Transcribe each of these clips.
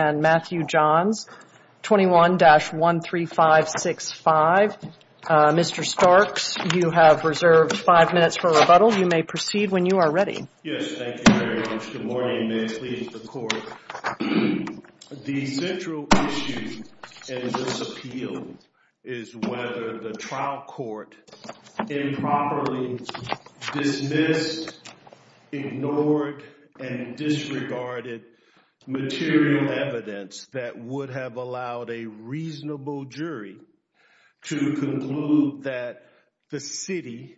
and Matthew Johns, 21-13565. Mr. Starks, you have reserved five minutes for rebuttal. You trial court improperly dismissed, ignored, and disregarded material evidence that would have allowed a reasonable jury to conclude that the city,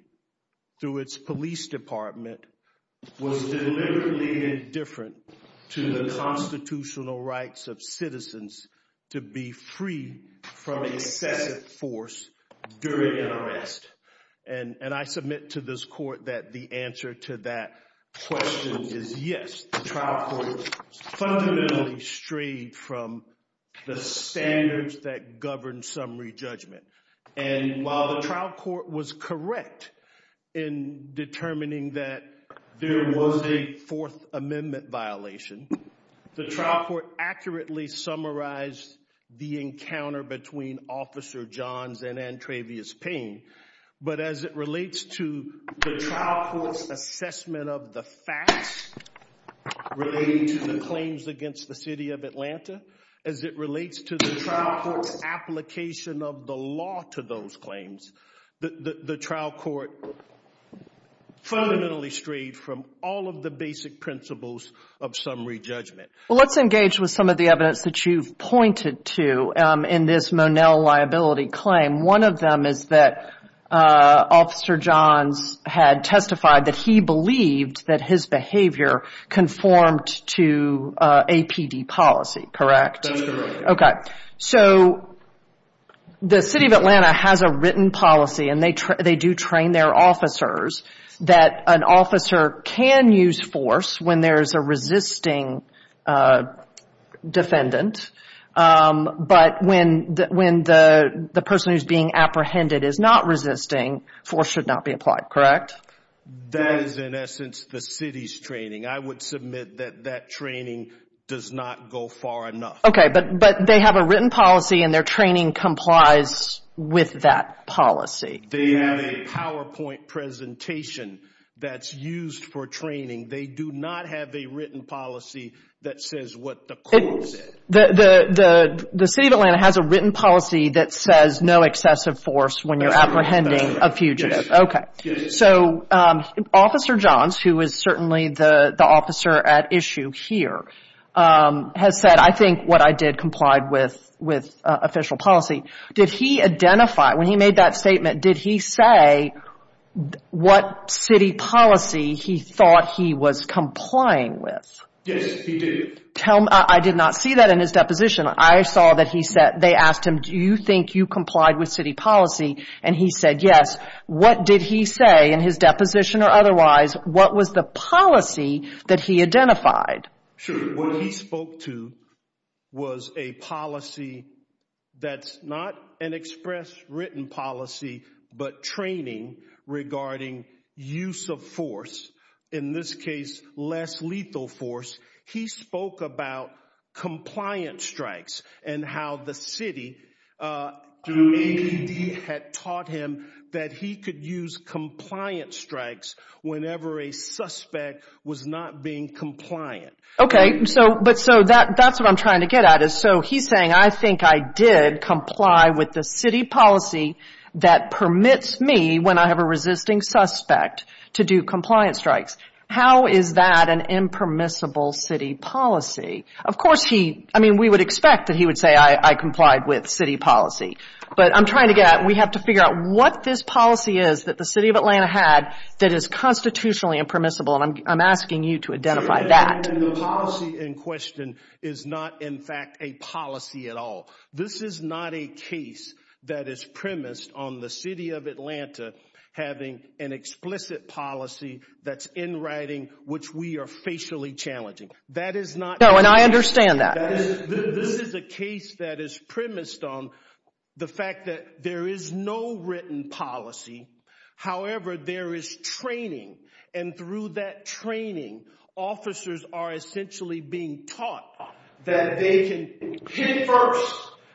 through its police department, was deliberately indifferent to the constitutional rights of citizens to be free from excessive force during an arrest. And I submit to this court that the answer to that question is yes. The trial court fundamentally strayed from the standards that govern summary judgment. And while the trial court was correct in determining that there was a Fourth Amendment violation, the trial court accurately summarized the encounter between Officer Johns and Antrevious Payne. But as it relates to the trial court's assessment of the facts relating to the claims against the city of Atlanta, as it relates to the trial court's application of the law to those claims, the trial court fundamentally strayed from all of the basic principles of summary judgment. Well, let's engage with some of the evidence that you've pointed to in this Monell liability claim. One of them is that Officer Johns had testified that he believed that his behavior conformed to APD policy, correct? That is correct. Okay, but they have a written policy and their training complies with that policy. They have a PowerPoint presentation that's used for training. They do not have a written policy that says what the court said. The city of Atlanta has a written policy that says no excessive force when you're apprehending a fugitive. Okay. So Officer Johns, who is certainly the officer at issue here, has said, I think what I did complied with official policy. Did he identify, when he made that statement, did he say what city policy he thought he was complying with? Yes, he did. I did not see that in his deposition. I saw that they asked him, do you think you complied with city policy? And he said yes. What did he say in his deposition or otherwise? What was the policy that he identified? Sure. What he spoke to was a policy that's not an express written policy, but training regarding use of force. In this case, less lethal force. He spoke about compliance strikes and how the city had taught him that he could use compliance strikes whenever a suspect was not being compliant. Okay. So that's what I'm trying to get at. So he's saying I think I did comply with the city policy that permits me, when I have a resisting suspect, to do compliance strikes. How is that an impermissible city policy? Of course, we would expect that he would say I complied with city policy. But I'm trying to get at, we have to figure out what this policy is that the city of Atlanta had that is constitutionally impermissible. And I'm asking you to identify that. The policy in question is not, in fact, a policy at all. This is not a case that is premised on the city of Atlanta having an explicit policy that's in writing, which we are facially challenging. That is not... No, and I understand that. This is a case that is premised on the fact that there is no written policy. However, there is training. And through that training, officers are essentially being taught that they can hit first,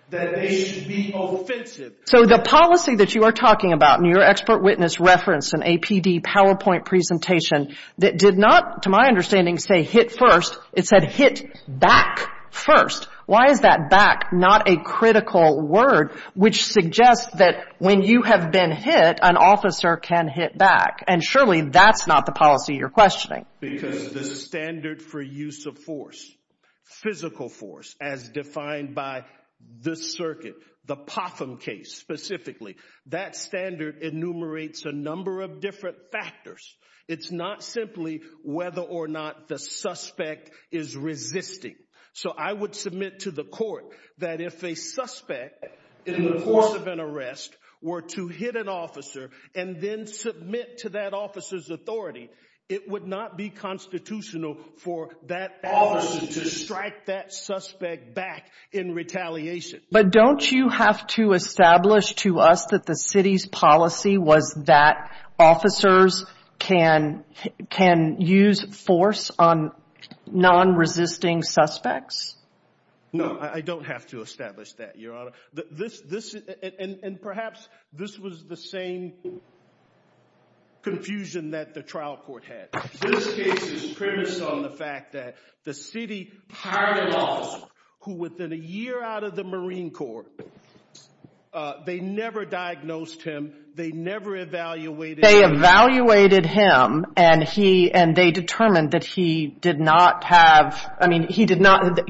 that they should be offensive. So the policy that you are talking about in your expert witness reference and APD PowerPoint presentation that did not, to my understanding, say hit first, it said hit back first. Why is that back not a critical word which suggests that when you have been hit, an officer can hit back? And surely that's not the policy you're questioning. Because the standard for use of force, physical force, as defined by this circuit, the Potham case specifically, that standard enumerates a number of different factors. It's not simply whether or not the suspect is resisting. So I would submit to the court that if a suspect in the course of an arrest were to hit an officer and then submit to that officer's authority, it would not be constitutional for that officer to strike that suspect back in retaliation. But don't you have to establish to us that the city's policy was that officers can use force on non-resisting suspects? No, I don't have to establish that, Your Honor. And perhaps this was the same confusion that the trial court had. This case is premised on the fact that the city hired an officer who within a year out of the Marine Corps, they never diagnosed him, they never evaluated him. They evaluated him and they determined that he did not have, I mean, he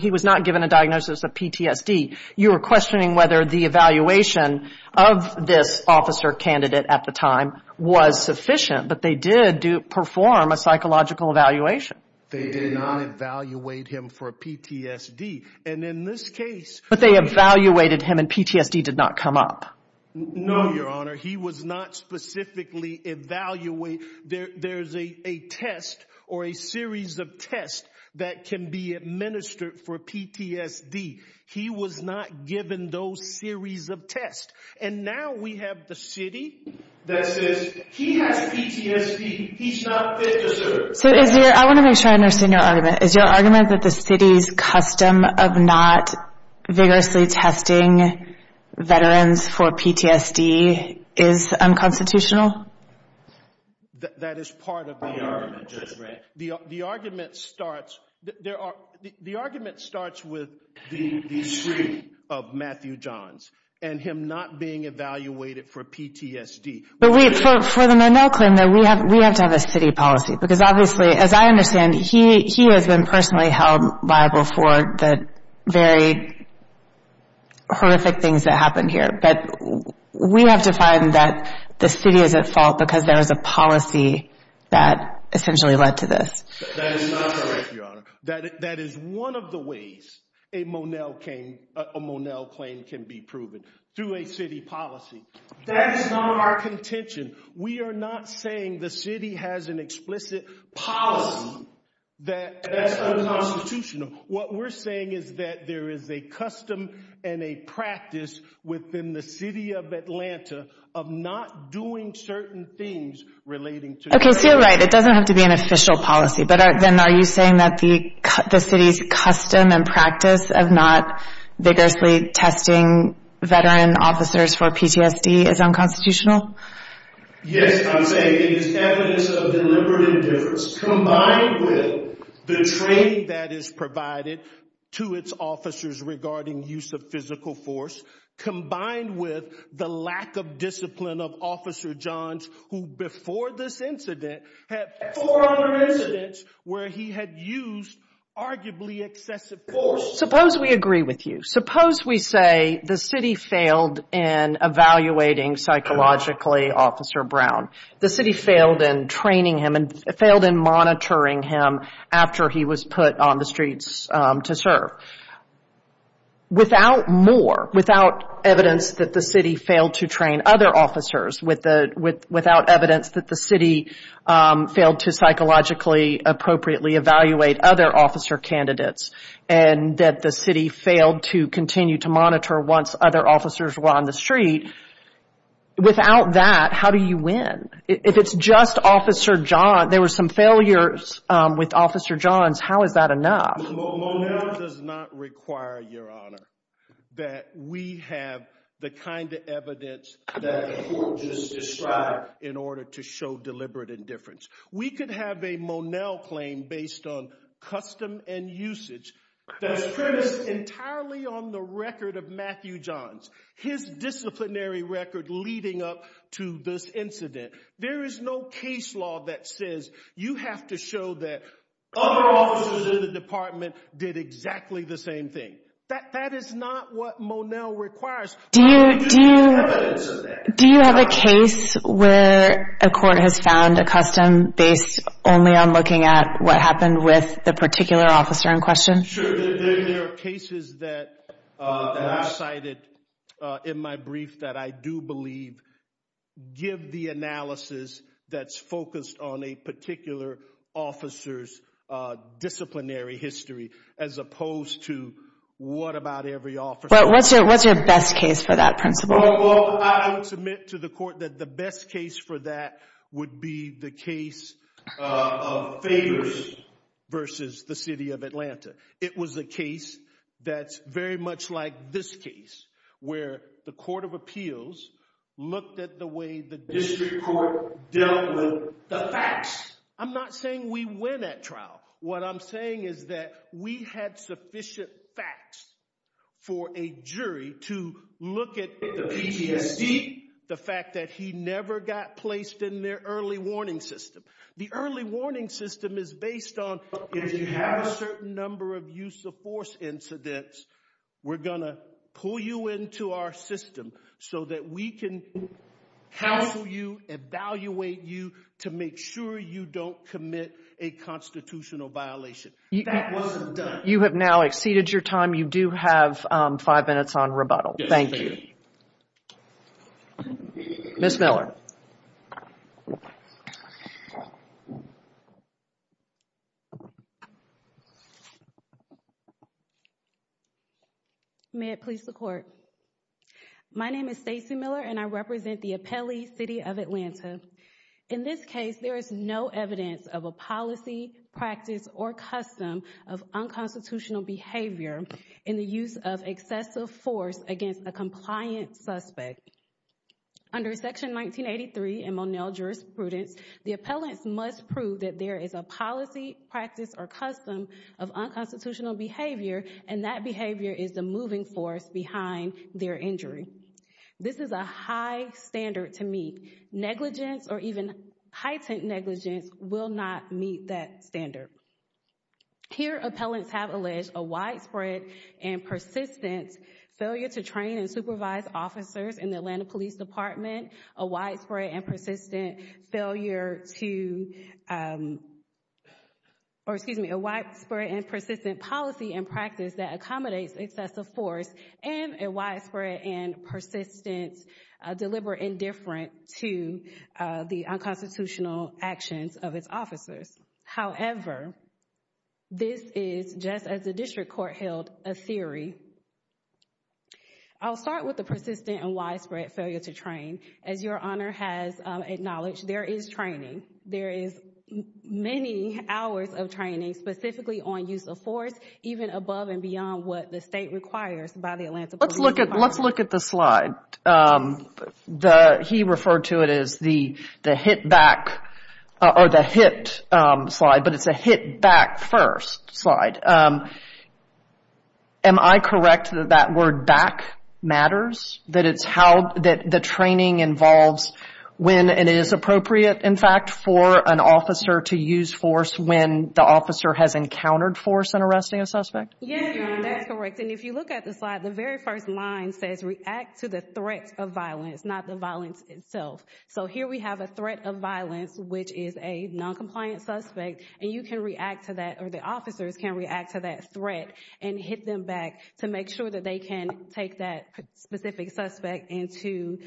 was not given a diagnosis of PTSD. You are questioning whether the evaluation of this officer candidate at the time was sufficient, but they did perform a psychological evaluation. They did not evaluate him for PTSD. And in this case... But they evaluated him and PTSD did not come up. No, Your Honor. He was not specifically evaluated. There's a test or a series of tests that can be administered for PTSD. He was not given those series of tests. And now we have the city that says, he has PTSD, he's not fit to serve. I want to make sure I understand your argument. Is your argument that the city's custom of not vigorously testing veterans for PTSD is unconstitutional? That is part of the argument. The argument starts with the history of Matthew Johns and him not being evaluated for PTSD. For the Monell claim though, we have to have a city policy because obviously, as I understand, he has been personally held liable for the very horrific things that happened here. But we have to find that the city is at fault because there is a policy that essentially led to this. That is not correct, Your Honor. That is one of the ways a Monell claim can be proven through a city policy. That is not our contention. We are not saying the city has an explicit policy that is unconstitutional. What we're saying is that there is a custom and a practice within the city of Atlanta of not doing certain things relating to PTSD. Okay, so you're right. It doesn't have to be an official policy. But then are you saying that the city's custom and practice of not vigorously testing veteran officers for PTSD is unconstitutional? Yes, I'm saying it is evidence of deliberate indifference combined with the training that is provided to its officers regarding use of physical force, combined with the lack of discipline of Officer Johns, who before this incident had four other incidents where he had used arguably excessive force. Suppose we agree with you. Suppose we say the city failed in evaluating psychologically Officer Brown. The city failed in training him and failed in monitoring him after he was put on the streets to serve. Without more, without evidence that the city failed to train other officers, without evidence that the city failed to psychologically appropriately evaluate other officer candidates, and that the city failed to continue to monitor once other officers were on the street, without that, how do you win? If it's just Officer Johns, there were some failures with Officer Johns, how is that enough? Monell does not require, Your Honor, that we have the kind of evidence that the court just described in order to show deliberate indifference. We could have a Monell claim based on custom and usage that's premised entirely on the record of Matthew Johns, his disciplinary record leading up to this incident. There is no case law that says you have to show that other officers in the department did exactly the same thing. That is not what Monell requires. Do you have a case where a court has found a custom based only on looking at what happened with the particular officer in question? Sure, there are cases that I've cited in my brief that I do believe give the analysis that's focused on a particular officer's disciplinary history as opposed to what about every officer. What's your best case for that principle? Well, I don't submit to the court that the best case for that would be the case of Favors versus the City of Atlanta. It was a case that's very much like this case where the Court of Appeals looked at the way the district court dealt with the facts. I'm not saying we win at trial. What I'm saying is that we had sufficient facts for a jury to look at the PTSD, the fact that he never got placed in their early warning system. The early warning system is based on if you have a certain number of use of force incidents, we're going to pull you into our system so that we can counsel you, evaluate you, to make sure you don't commit a constitutional violation. That wasn't done. You have now exceeded your time. You do have five minutes on rebuttal. Thank you. Yes, ma'am. Ms. Miller. May it please the Court. My name is Stacy Miller, and I represent the Appellee City of Atlanta. In this case, there is no evidence of a policy, practice, or custom of unconstitutional behavior in the use of excessive force against a compliant suspect. Under Section 1983 in Monell jurisprudence, the appellants must prove that there is a policy, practice, or custom of unconstitutional behavior, and that behavior is the moving force behind their injury. This is a high standard to meet. Negligence or even heightened negligence will not meet that standard. Here, appellants have alleged a widespread and persistent failure to train and supervise officers in the Atlanta Police Department, a widespread and persistent policy and practice that accommodates excessive force, and a widespread and persistent deliberate indifference to the unconstitutional actions of its officers. However, this is, just as the District Court held, a theory. I'll start with the persistent and widespread failure to train. As Your Honor has acknowledged, there is training. There is many hours of training, specifically on use of force, even above and beyond what the State requires by the Atlanta Police Department. Let's look at the slide. He referred to it as the hit back or the hit slide, but it's a hit back first slide. Am I correct that that word back matters, that it's how the training involves when it is appropriate, in fact, for an officer to use force when the officer has encountered force in arresting a suspect? Yes, Your Honor, that's correct. And if you look at the slide, the very first line says react to the threat of violence, not the violence itself. So here we have a threat of violence, which is a noncompliant suspect, and you can react to that, or the officers can react to that threat and hit them back to make sure that they can take that specific suspect into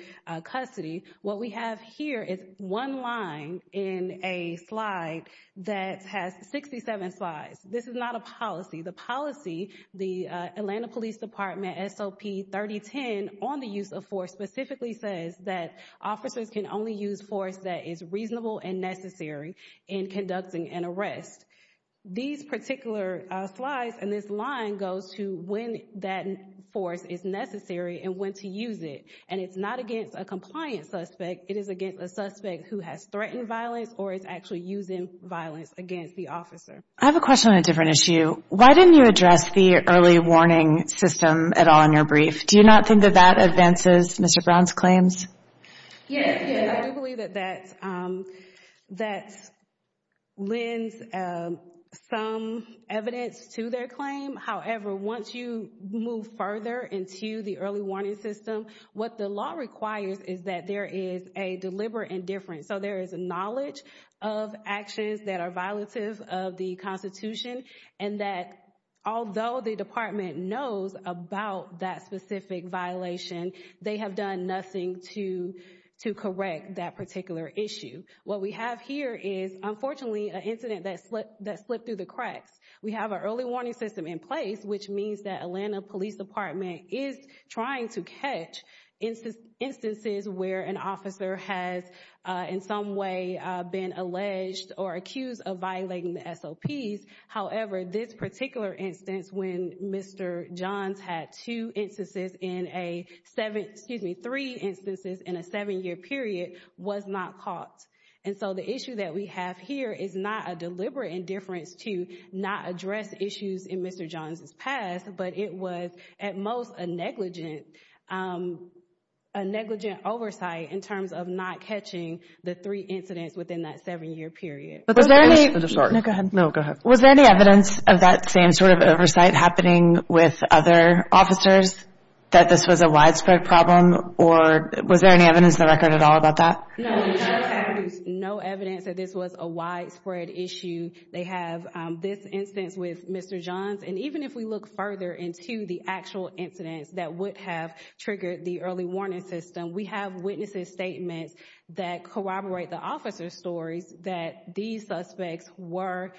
custody. What we have here is one line in a slide that has 67 slides. This is not a policy. The policy, the Atlanta Police Department SOP 3010 on the use of force, specifically says that officers can only use force that is reasonable and necessary in conducting an arrest. These particular slides and this line goes to when that force is necessary and when to use it. And it's not against a compliant suspect. It is against a suspect who has threatened violence or is actually using violence against the officer. I have a question on a different issue. Why didn't you address the early warning system at all in your brief? Do you not think that that advances Mr. Brown's claims? Yes. We believe that that lends some evidence to their claim. However, once you move further into the early warning system, what the law requires is that there is a deliberate indifference. So there is a knowledge of actions that are violative of the Constitution, and that although the department knows about that specific violation, they have done nothing to correct that particular issue. What we have here is, unfortunately, an incident that slipped through the cracks. We have an early warning system in place, which means that Atlanta Police Department is trying to catch instances where an officer has in some way been alleged or accused of violating the SOPs. However, this particular instance, when Mr. Johns had two instances in a seven-year period, was not caught. And so the issue that we have here is not a deliberate indifference to not address issues in Mr. Johns' past, but it was at most a negligent oversight in terms of not catching the three incidents within that seven-year period. Was there any evidence of that same sort of oversight happening with other officers that this was a widespread problem, or was there any evidence in the record at all about that? No, the judge has produced no evidence that this was a widespread issue. They have this instance with Mr. Johns. And even if we look further into the actual incidents that would have triggered the early warning system, we have witnesses' statements that corroborate the officer's stories that these suspects were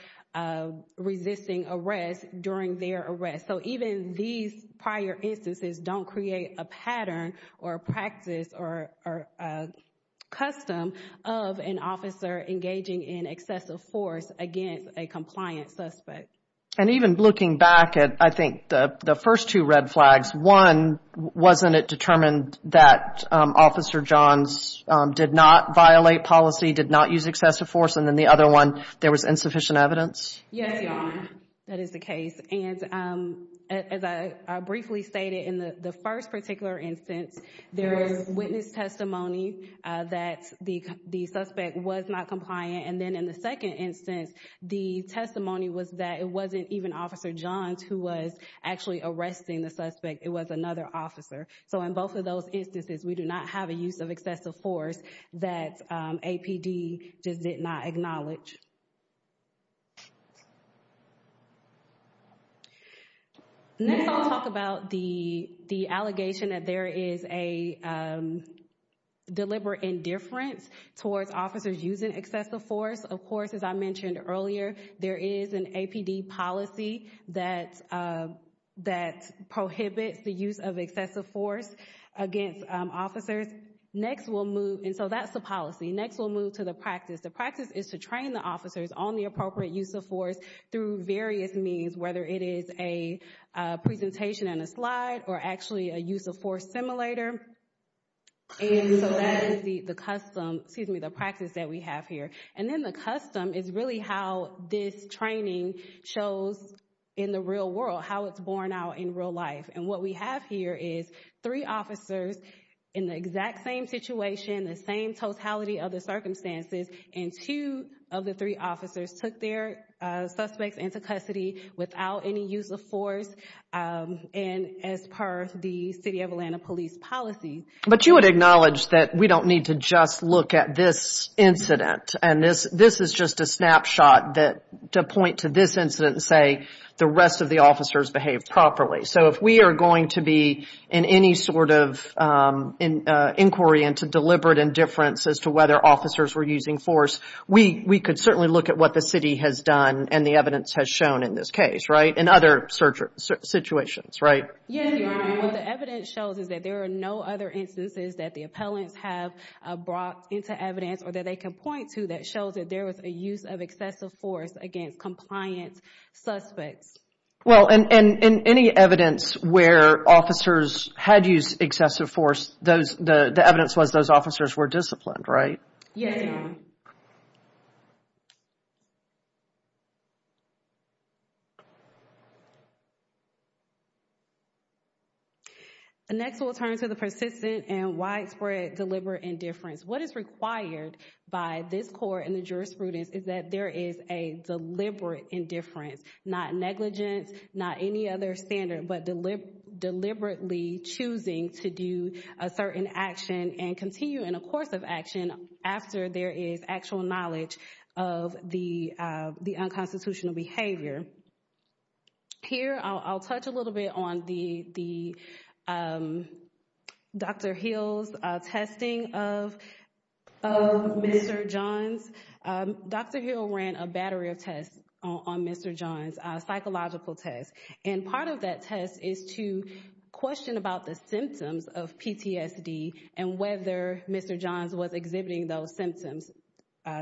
resisting arrest during their arrest. So even these prior instances don't create a pattern or a practice or a custom of an officer engaging in excessive force against a compliant suspect. And even looking back at, I think, the first two red flags, one, wasn't it determined that Officer Johns did not violate policy, did not use excessive force? And then the other one, there was insufficient evidence? Yes, Your Honor, that is the case. And as I briefly stated in the first particular instance, there is witness testimony that the suspect was not compliant. And then in the second instance, the testimony was that it wasn't even Officer Johns who was actually arresting the suspect. It was another officer. So in both of those instances, we do not have a use of excessive force that APD just did not acknowledge. Next, I'll talk about the allegation that there is a deliberate indifference towards officers using excessive force. Of course, as I mentioned earlier, there is an APD policy that prohibits the use of excessive force against officers. Next, we'll move, and so that's the policy. Next, we'll move to the practice. The practice is to train the officers on the appropriate use of force through various means, whether it is a presentation and a slide or actually a use of force simulator. And so that is the custom, excuse me, the practice that we have here. And then the custom is really how this training shows in the real world how it's borne out in real life. And what we have here is three officers in the exact same situation, the same totality of the circumstances, and two of the three officers took their suspects into custody without any use of force, and as per the City of Atlanta police policy. But you would acknowledge that we don't need to just look at this incident, and this is just a snapshot to point to this incident and say the rest of the officers behaved properly. So if we are going to be in any sort of inquiry into deliberate indifference as to whether officers were using force, we could certainly look at what the city has done and the evidence has shown in this case, right, in other situations, right? Yes, Your Honor. What the evidence shows is that there are no other instances that the appellants have brought into evidence or that they can point to that shows that there was a use of excessive force against compliant suspects. Well, and any evidence where officers had used excessive force, the evidence was those officers were disciplined, right? Yes, Your Honor. Next, we'll turn to the persistent and widespread deliberate indifference. What is required by this court and the jurisprudence is that there is a deliberate indifference, not negligence, not any other standard, but deliberately choosing to do a certain action and continue in a course of action after there is actual knowledge of the unconstitutional behavior. Here, I'll touch a little bit on the Dr. Hill's testing of Mr. Johns. Dr. Hill ran a battery of tests on Mr. Johns, psychological tests, and part of that test is to question about the symptoms of PTSD and whether Mr. Johns was exhibiting those symptoms.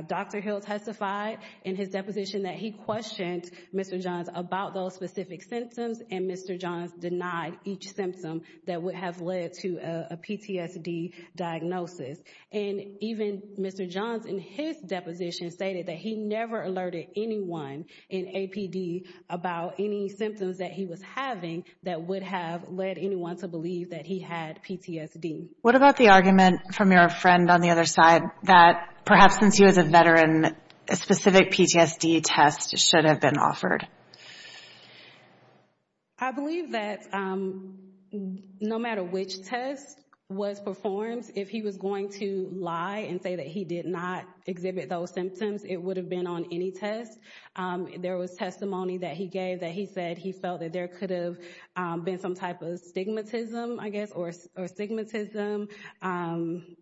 Dr. Hill testified in his deposition that he questioned Mr. Johns about those specific symptoms and Mr. Johns denied each symptom that would have led to a PTSD diagnosis. And even Mr. Johns in his deposition stated that he never alerted anyone in APD about any symptoms that he was having that would have led anyone to believe that he had PTSD. What about the argument from your friend on the other side that perhaps since he was a veteran, a specific PTSD test should have been offered? I believe that no matter which test was performed, if he was going to lie and say that he did not exhibit those symptoms, it would have been on any test. There was testimony that he gave that he said he felt that there could have been some type of stigmatism, I guess, or stigmatism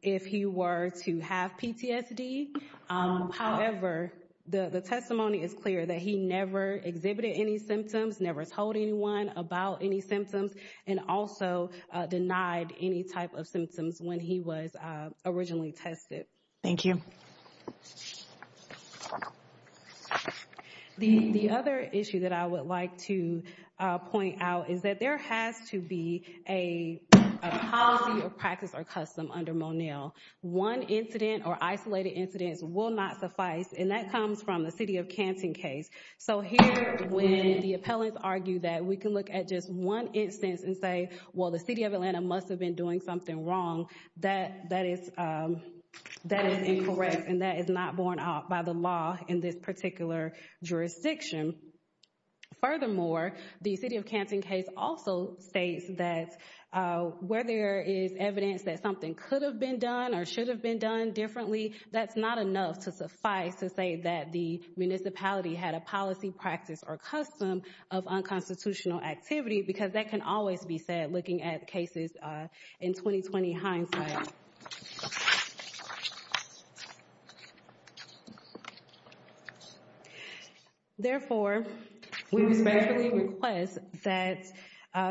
if he were to have PTSD. However, the testimony is clear that he never exhibited any symptoms, never told anyone about any symptoms, and also denied any type of symptoms when he was originally tested. Thank you. The other issue that I would like to point out is that there has to be a policy of practice or custom under Monell. One incident or isolated incidents will not suffice, and that comes from the city of Canton case. So here, when the appellants argue that we can look at just one instance and say, well, the city of Atlanta must have been doing something wrong, that is incorrect and that is not borne out by the law in this particular jurisdiction. Furthermore, the city of Canton case also states that where there is evidence that something could have been done or should have been done differently, that's not enough to suffice to say that the municipality had a policy, practice, or custom of unconstitutional activity, because that can always be said looking at cases in 20-20 hindsight. Therefore, we respectfully request that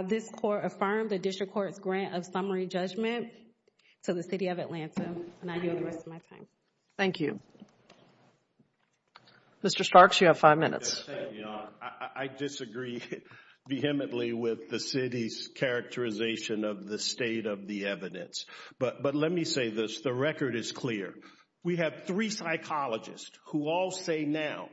this Court affirm the District Court's grant of summary judgment to the city of Atlanta. And I yield the rest of my time. Thank you. Mr. Starks, you have five minutes. I disagree vehemently with the city's characterization of the state of the evidence. But let me say this, the record is clear. We have three psychologists who all say now,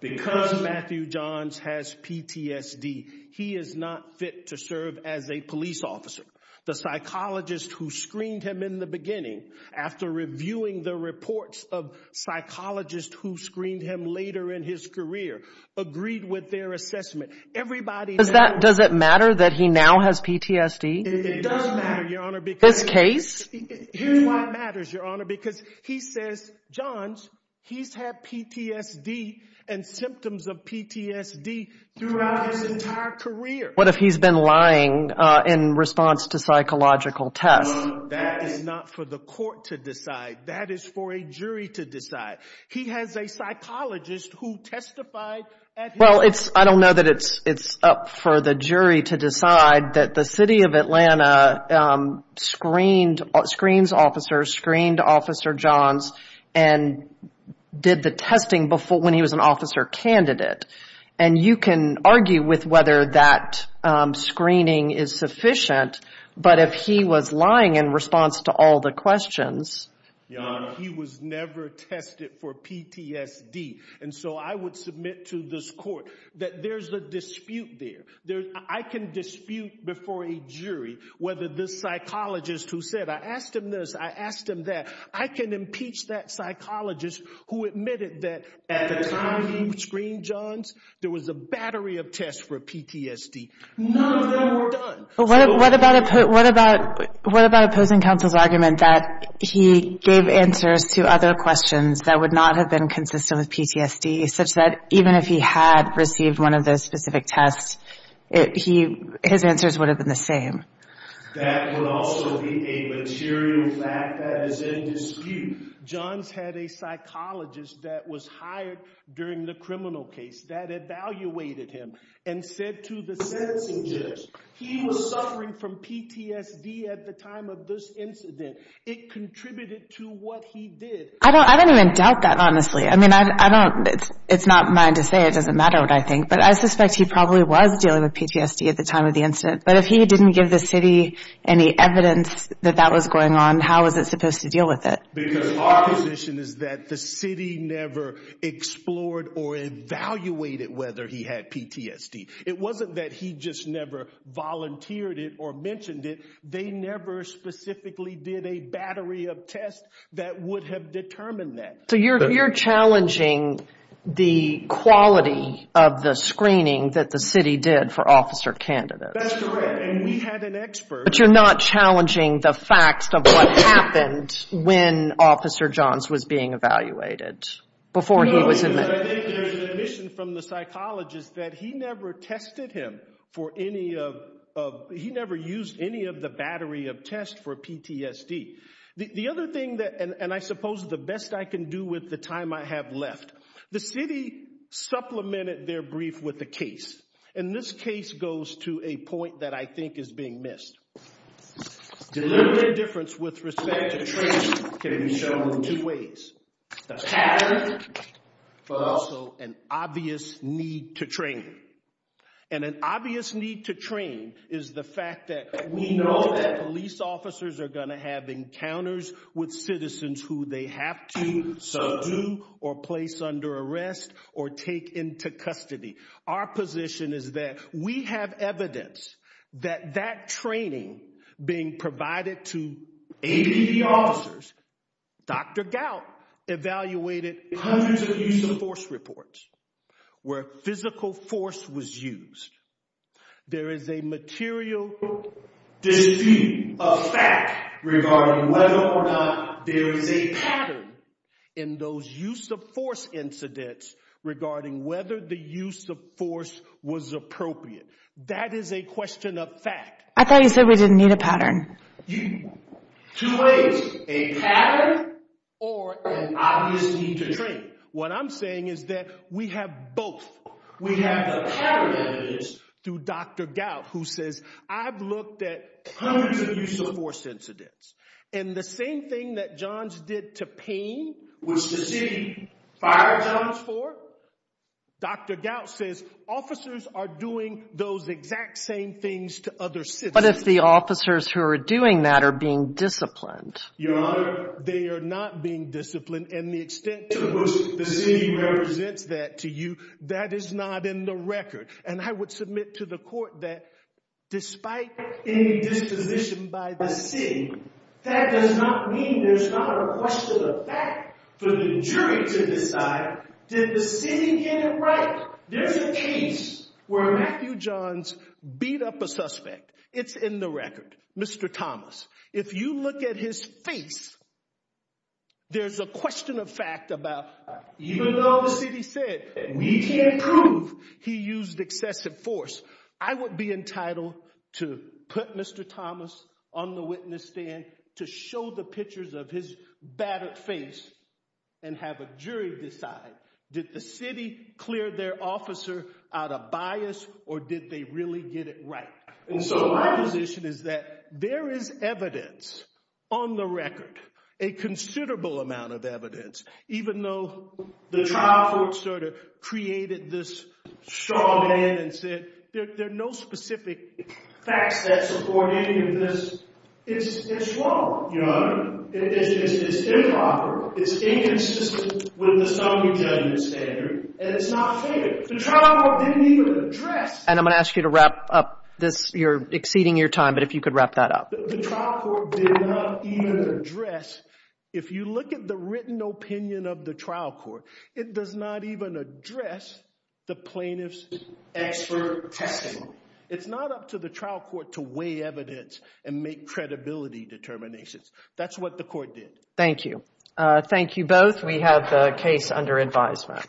because Matthew Johns has PTSD, he is not fit to serve as a police officer. The psychologist who screened him in the beginning, after reviewing the reports of psychologists who screened him later in his career, agreed with their assessment. Does it matter that he now has PTSD? It does matter, Your Honor. This case? Here's why it matters, Your Honor, because he says, Johns, he's had PTSD and symptoms of PTSD throughout his entire career. What if he's been lying in response to psychological tests? That is not for the court to decide. That is for a jury to decide. He has a psychologist who testified at his trial. Well, I don't know that it's up for the jury to decide that the city of Atlanta screened officers, screened Officer Johns, and did the testing when he was an officer candidate. And you can argue with whether that screening is sufficient. But if he was lying in response to all the questions? Your Honor, he was never tested for PTSD. And so I would submit to this court that there's a dispute there. I can dispute before a jury whether this psychologist who said, I asked him this, I asked him that, I can impeach that psychologist who admitted that at the time he screened Johns, there was a battery of tests for PTSD. None of them were done. What about opposing counsel's argument that he gave answers to other questions that would not have been consistent with PTSD, such that even if he had received one of those specific tests, his answers would have been the same? That would also be a material fact that is in dispute. Johns had a psychologist that was hired during the criminal case that evaluated him and said to the sentencing judge, he was suffering from PTSD at the time of this incident. It contributed to what he did. I don't even doubt that, honestly. I mean, I don't, it's not mine to say. It doesn't matter what I think. But I suspect he probably was dealing with PTSD at the time of the incident. But if he didn't give the city any evidence that that was going on, how was it supposed to deal with it? Because our position is that the city never explored or evaluated whether he had PTSD. It wasn't that he just never volunteered it or mentioned it. They never specifically did a battery of tests that would have determined that. So you're challenging the quality of the screening that the city did for officer candidates. That's correct. And we had an expert. But you're not challenging the facts of what happened when Officer Johns was being evaluated, before he was admitted. I think there's an admission from the psychologist that he never tested him for any of, he never used any of the battery of tests for PTSD. The other thing that, and I suppose the best I can do with the time I have left, the city supplemented their brief with a case. And this case goes to a point that I think is being missed. Deliberate indifference with respect to training can be shown in two ways. A pattern, but also an obvious need to train. And an obvious need to train is the fact that we know that police officers are going to have encounters with citizens who they have to subdue or place under arrest or take into custody. Our position is that we have evidence that that training being provided to APD officers, Dr. Gout evaluated hundreds of use of force reports where physical force was used. There is a material dispute of fact regarding whether or not there is a pattern in those use of force incidents regarding whether the use of force was appropriate. That is a question of fact. I thought you said we didn't need a pattern. Two ways, a pattern or an obvious need to train. What I'm saying is that we have both. We have the pattern evidence through Dr. Gout who says I've looked at hundreds of use of force incidents. And the same thing that Johns did to Payne, which the city fired Johns for, Dr. Gout says officers are doing those exact same things to other citizens. But if the officers who are doing that are being disciplined? Your Honor, they are not being disciplined. And the extent to which the city represents that to you, that is not in the record. And I would submit to the court that despite any disposition by the city, that does not mean there's not a question of fact for the jury to decide. Did the city get it right? There's a case where Matthew Johns beat up a suspect. It's in the record. Mr. Thomas, if you look at his face, there's a question of fact about even though the city said we can't prove he used excessive force, I would be entitled to put Mr. Thomas on the witness stand to show the pictures of his battered face and have a jury decide. Did the city clear their officer out of bias or did they really get it right? And so my position is that there is evidence on the record, a considerable amount of evidence, even though the trial court sort of created this straw man and said there are no specific facts that support any of this. It's wrong, Your Honor. It's improper. It's inconsistent with the summary judgment standard, and it's not fair. The trial court didn't even address. And I'm going to ask you to wrap up this. You're exceeding your time, but if you could wrap that up. The trial court did not even address. If you look at the written opinion of the trial court, it does not even address the plaintiff's expert testimony. It's not up to the trial court to weigh evidence and make credibility determinations. That's what the court did. Thank you. Thank you both. We have the case under advisement. Thank you.